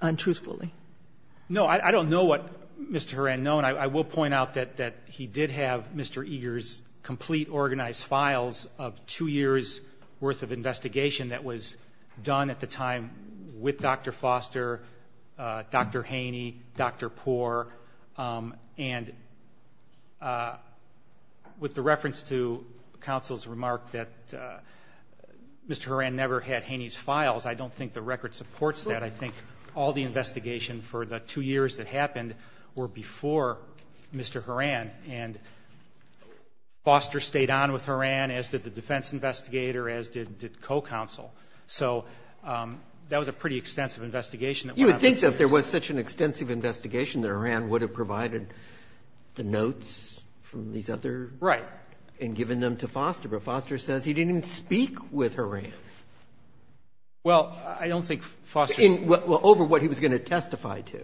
untruthfully? No, I don't know what Mr. Horan known. I will point out that he did have Mr. Eager's complete organized files of two years worth of investigation that was done at the time with Dr. Foster, Dr. Haney, Dr. Poor. And with the reference to counsel's remark that Mr. Horan never had Haney's files, I don't think the record supports that. I think all the investigation for the two years that happened were before Mr. Horan and Foster stayed on with Horan as did the defense investigator, as did co-counsel. So that was a pretty extensive investigation. You would think that if there was such an extensive investigation that Horan would have provided the notes from these other. Right. And given them to Foster. But Foster says he didn't speak with Horan. Well, I don't think Foster. Well, over what he was going to testify to.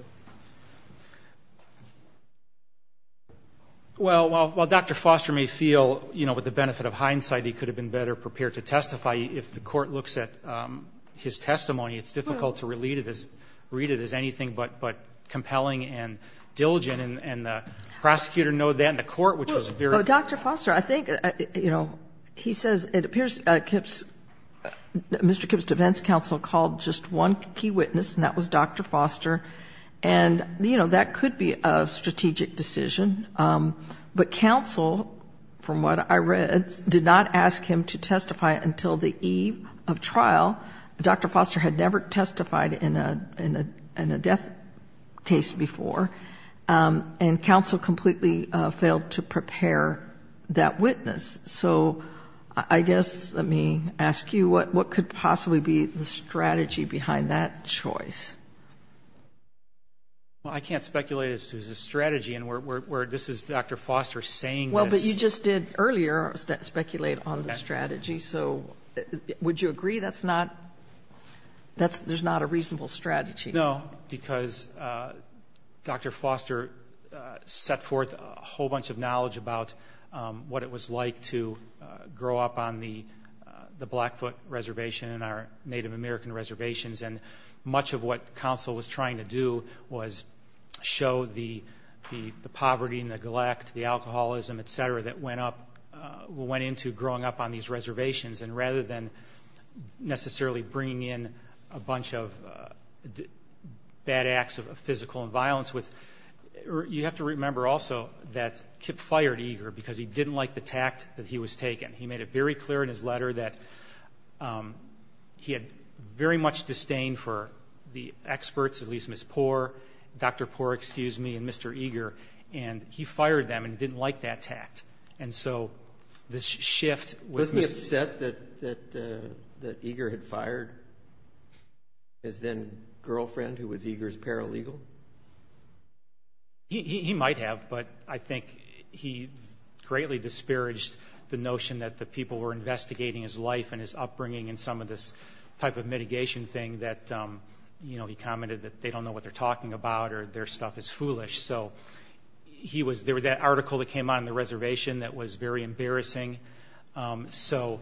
Well, while Dr. Foster may feel, you know, with the benefit of hindsight, he could have been better prepared to testify. If the court looks at his testimony, it's difficult to read it as anything but compelling and diligent. And the prosecutor noted that in the court, which was very. Well, Dr. Foster, I think, you know, he says it appears Mr. Kipp's defense counsel called just one key witness, and that was Dr. Foster. And, you know, that could be a strategic decision. But counsel, from what I read, did not ask him to testify until the eve of trial. Dr. Foster had never testified in a death case before. And counsel completely failed to prepare that witness. So I guess let me ask you, what could possibly be the strategy behind that choice? Well, I can't speculate as to the strategy. And where this is Dr. Foster saying this. Well, but you just did earlier speculate on the strategy. So would you agree that's not that's there's not a reasonable strategy? No, because Dr. Foster set forth a whole bunch of knowledge about what it was like to grow up on the Blackfoot Reservation and our Native American reservations. And much of what counsel was trying to do was show the poverty, neglect, the alcoholism, et cetera, that went up, went into growing up on these reservations. And rather than necessarily bringing in a bunch of bad acts of physical violence, you have to remember also that Kip fired Eager because he didn't like the tact that he was taken. He made it very clear in his letter that he had very much disdain for the experts, at least Ms. Poore, Dr. Poore, excuse me, and Mr. Eager. And he fired them and didn't like that tact. And so this shift was... Wasn't he upset that Eager had fired his then girlfriend who was Eager's paralegal? He might have, but I think he greatly disparaged the notion that the people were investigating his life and his upbringing and some of this type of mitigation thing that, you know, he commented that they don't know what they're talking about or their stuff is foolish. So he was... There was that article that came out on the reservation that was very embarrassing. So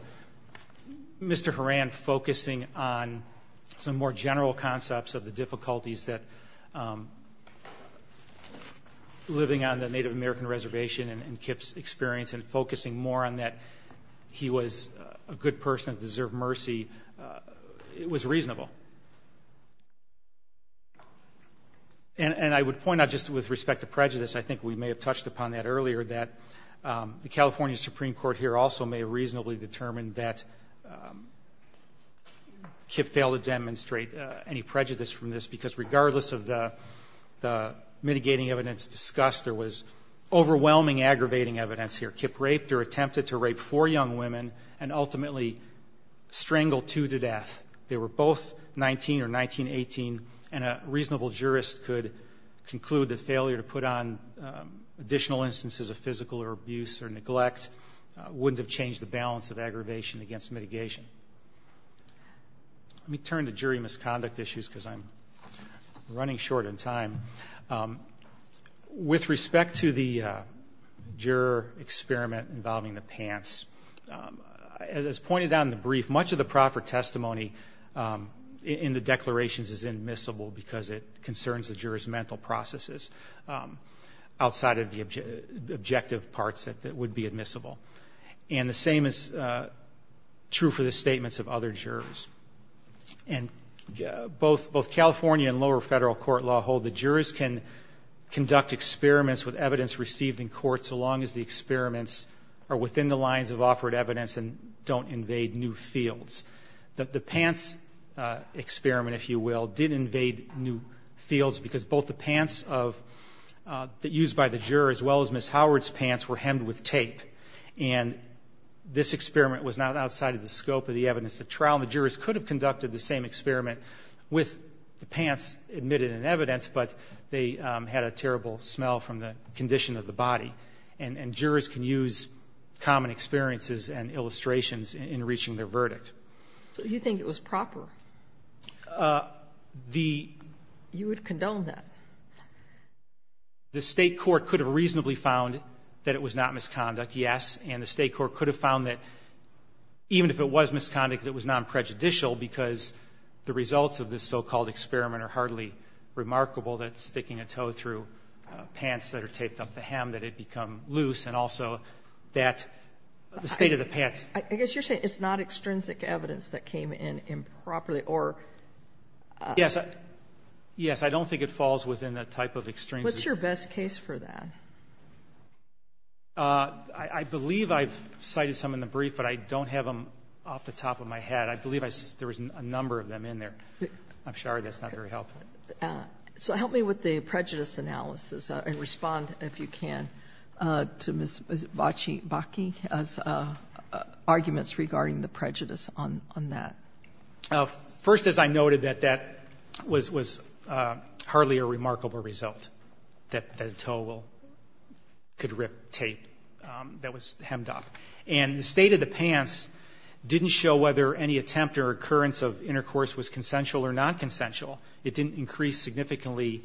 Mr. Horan focusing on some more general concepts of the difficulties that living on the Native American reservation and Kip's experience and focusing more on that he was a good person, deserved mercy, it was reasonable. And I would point out just with respect to prejudice, I think we may have touched upon that earlier, that the California Supreme Court here also may reasonably determine that Kip failed to demonstrate any prejudice from this because regardless of the mitigating evidence discussed, there was overwhelming aggravating evidence here. Kip raped or attempted to rape four young women and ultimately strangled two to death. They were both 19 or 19, 18 and a reasonable jurist could conclude that failure to put on additional instances of physical or abuse or neglect wouldn't have changed the balance of aggravation against mitigation. Let me turn to jury misconduct issues because I'm running short in time. With respect to the juror experiment involving the pants, as pointed out in the brief, much of the proper testimony in the declarations is admissible because it concerns the jurors' mental processes outside of the objective parts that would be admissible. And the same is true for the statements of other jurors. And both California and lower federal court law hold that jurors can conduct experiments with evidence received in court so long as the experiments are new fields. The pants experiment, if you will, did invade new fields because both the pants of the used by the juror as well as Ms. Howard's pants were hemmed with tape. And this experiment was not outside of the scope of the evidence at trial. The jurors could have conducted the same experiment with the pants admitted in evidence, but they had a terrible smell from the condition of the body. And jurors can use common experiences and illustrations in reaching their verdict. So you think it was proper? The ---- You would condone that? The State court could have reasonably found that it was not misconduct, yes, and the State court could have found that even if it was misconduct, it was nonprejudicial because the results of this so-called experiment are hardly remarkable that sticking a toe through pants that are taped up the hem that it become loose and also that the state of the pants. I guess you're saying it's not extrinsic evidence that came in improperly or ---- Yes. Yes. I don't think it falls within the type of extrinsic. What's your best case for that? I believe I've cited some in the brief, but I don't have them off the top of my head. I believe there was a number of them in there. I'm sorry. That's not very helpful. So help me with the prejudice analysis and respond, if you can, to Ms. Bakke as arguments regarding the prejudice on that. First, as I noted, that that was hardly a remarkable result, that the toe could rip tape that was hemmed up. And the state of the pants didn't show whether any attempt or occurrence of intercourse was consensual or nonconsensual. It didn't increase significantly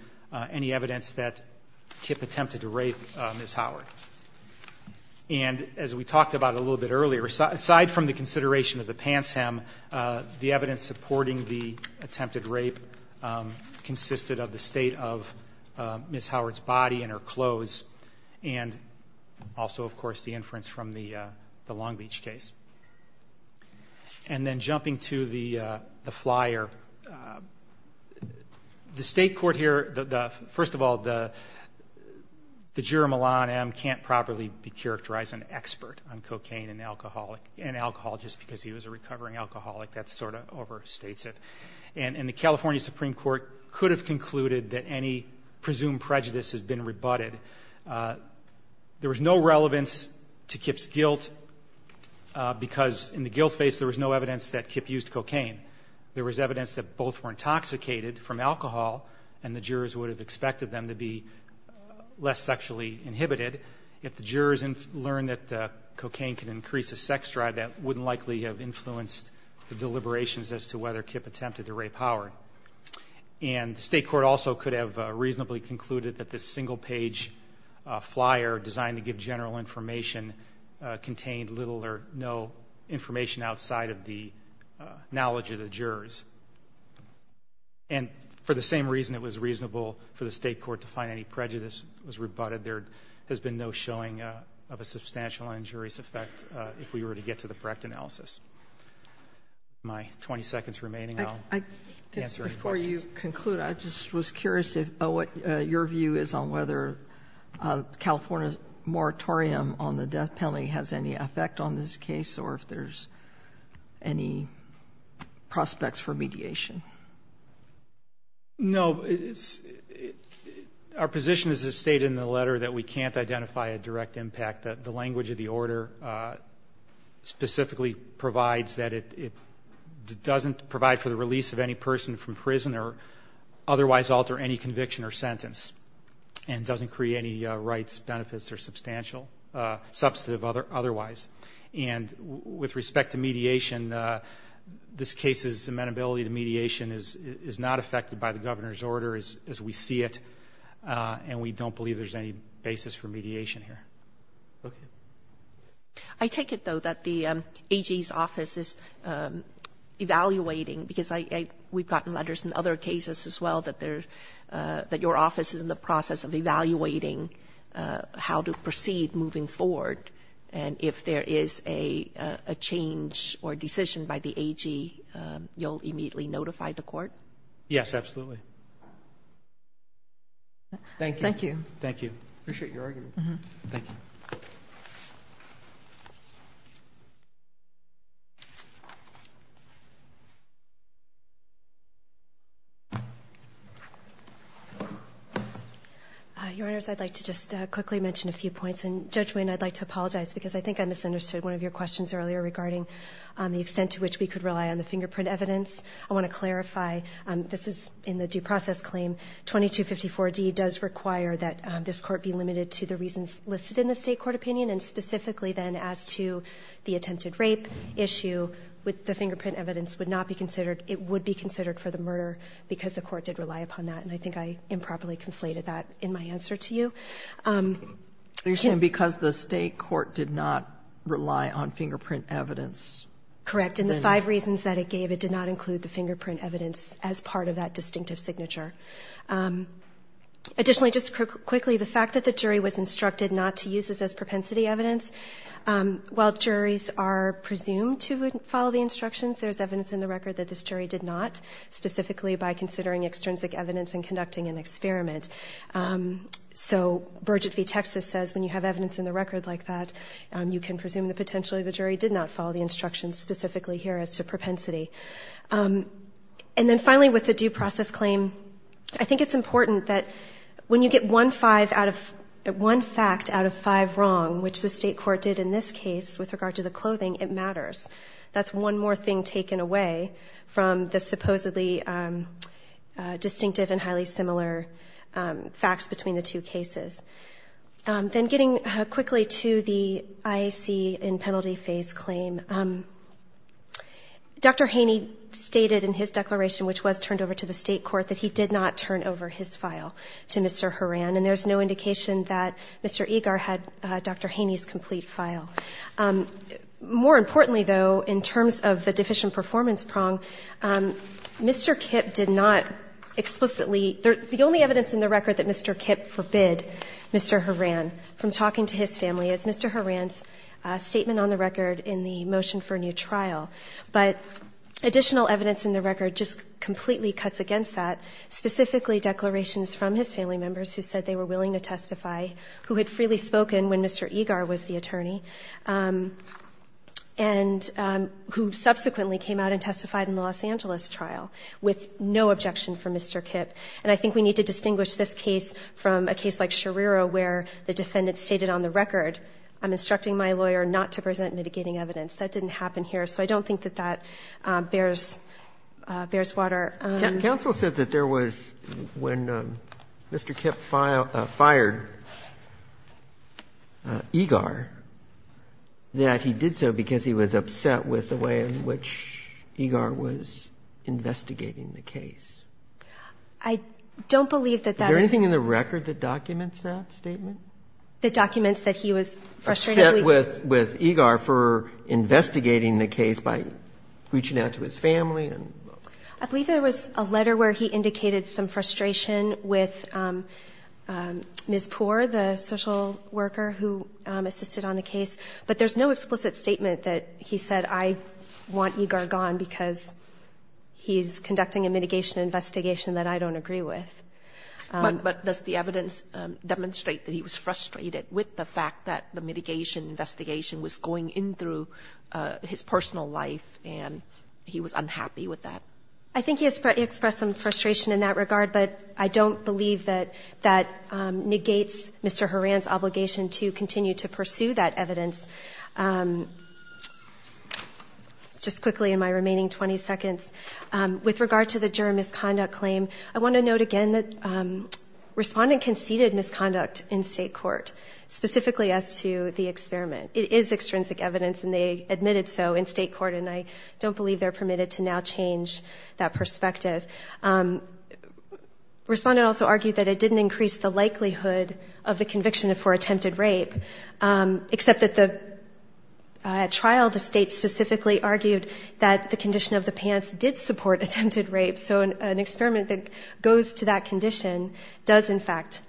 any evidence that Kip attempted to rape Ms. Howard. And as we talked about a little bit earlier, aside from the consideration of the pants hem, the evidence supporting the attempted rape consisted of the state of Ms. Howard's body and her clothes and also, of course, the inference from the Long Beach case. And then jumping to the flyer, the state court here, first of all, the juror Milan M. can't properly be characterized an expert on cocaine and alcohol just because he was a recovering alcoholic. That sort of overstates it. And the California Supreme Court could have concluded that any presumed prejudice has been rebutted. There was no relevance to Kip's guilt because in the guilt phase there was no evidence that Kip used cocaine. There was evidence that both were intoxicated from alcohol and the jurors would have expected them to be less sexually inhibited. If the jurors learned that cocaine can increase a sex drive, that wouldn't likely have influenced the deliberations as to whether Kip attempted to rape Howard. And the state court also could have reasonably concluded that this single-page flyer designed to give general information contained little or no information outside of the knowledge of the jurors. And for the same reason it was reasonable for the state court to find any prejudice was rebutted, there has been no showing of a substantial injurious effect if we were to get to the correct analysis. That's my 20 seconds remaining. I'll answer any questions. Before you conclude, I just was curious about what your view is on whether California's moratorium on the death penalty has any effect on this case or if there's any prospects for mediation. No. Our position is as stated in the letter that we can't identify a direct impact that the language of the order specifically provides that it doesn't provide for the release of any person from prison or otherwise alter any conviction or sentence and doesn't create any rights, benefits, or substantive otherwise. And with respect to mediation, this case's amenability to mediation is not affected by the governor's order as we see it, and we don't believe there's any basis for mediation. I take it, though, that the AG's office is evaluating, because we've gotten letters in other cases as well that your office is in the process of evaluating how to proceed moving forward, and if there is a change or decision by the AG, you'll immediately notify the court? Yes, absolutely. Thank you. Thank you. Thank you. Appreciate your argument. Thank you. Your Honors, I'd like to just quickly mention a few points, and Judge Wayne, I'd like to apologize because I think I misunderstood one of your questions earlier regarding the extent to which we could rely on the fingerprint evidence. I want to clarify, this is in the due process claim. 2254D does require that this court be limited to the reasons listed in the State Court opinion, and specifically then as to the attempted rape issue, the fingerprint evidence would not be considered. It would be considered for the murder because the court did rely upon that, and I think I improperly conflated that in my answer to you. You're saying because the State Court did not rely on fingerprint evidence? Correct. And the five reasons that it gave, it did not include the fingerprint evidence as part of that distinctive signature. Additionally, just quickly, the fact that the jury was instructed not to use this as propensity evidence, while juries are presumed to follow the instructions, there's evidence in the record that this jury did not, specifically by considering extrinsic evidence and conducting an experiment. So, Bridget v. Texas says when you have evidence in the record like that, you can adhere as to propensity. And then finally, with the due process claim, I think it's important that when you get one fact out of five wrong, which the State Court did in this case with regard to the clothing, it matters. That's one more thing taken away from the supposedly distinctive and highly similar facts between the two cases. Then getting quickly to the IAC in penalty phase claim, Dr. Haney stated in his declaration, which was turned over to the State Court, that he did not turn over his file to Mr. Horan. And there's no indication that Mr. Egar had Dr. Haney's complete file. More importantly, though, in terms of the deficient performance prong, Mr. Kipp did not explicitly – the only evidence in the record that Mr. Kipp forbid Mr. Horan from talking to his family is Mr. Horan's statement on the record in the motion for a new trial. But additional evidence in the record just completely cuts against that, specifically declarations from his family members who said they were willing to testify, who had freely spoken when Mr. Egar was the attorney, and who subsequently came out and made no objection for Mr. Kipp. And I think we need to distinguish this case from a case like Scherrero, where the defendant stated on the record, I'm instructing my lawyer not to present mitigating evidence. That didn't happen here. So I don't think that that bears – bears water. Roberts. Counsel said that there was, when Mr. Kipp filed – fired Egar, that he did so because he was upset with the way in which Egar was investigating the case. I don't believe that that was – Is there anything in the record that documents that statement? That documents that he was frustrated – Upset with – with Egar for investigating the case by reaching out to his family and – I believe there was a letter where he indicated some frustration with Ms. Poore, the social worker who assisted on the case. But there's no explicit statement that he said, I want Egar gone because he's conducting a mitigation investigation that I don't agree with. But does the evidence demonstrate that he was frustrated with the fact that the mitigation investigation was going in through his personal life and he was unhappy with that? I think he expressed some frustration in that regard, but I don't believe that negates Mr. Horan's obligation to continue to pursue that evidence. Just quickly in my remaining 20 seconds, with regard to the juror misconduct claim, I want to note again that Respondent conceded misconduct in state court, specifically as to the experiment. It is extrinsic evidence and they admitted so in state court and I don't believe they're permitted to now change that perspective. Respondent also argued that it didn't increase the likelihood of the conviction for attempted rape, except that the – at trial the state specifically argued that the condition of the pants did support attempted rape. So an experiment that goes to that condition does in fact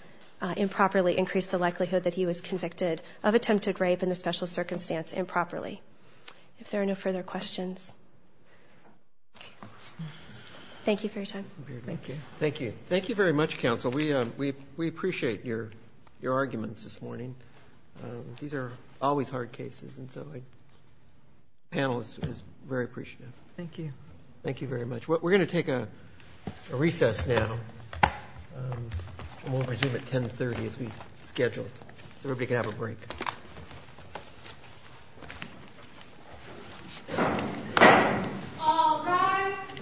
improperly increase the likelihood that he was convicted of attempted rape in the special circumstance improperly. If there are no further questions. Thank you for your time. Thank you. Thank you. Thank you very much, counsel. We appreciate your arguments this morning. These are always hard cases and so the panel is very appreciative. Thank you. Thank you very much. We're going to take a recess now and we'll resume at 10.30 as we scheduled so everybody can have a break. All rise.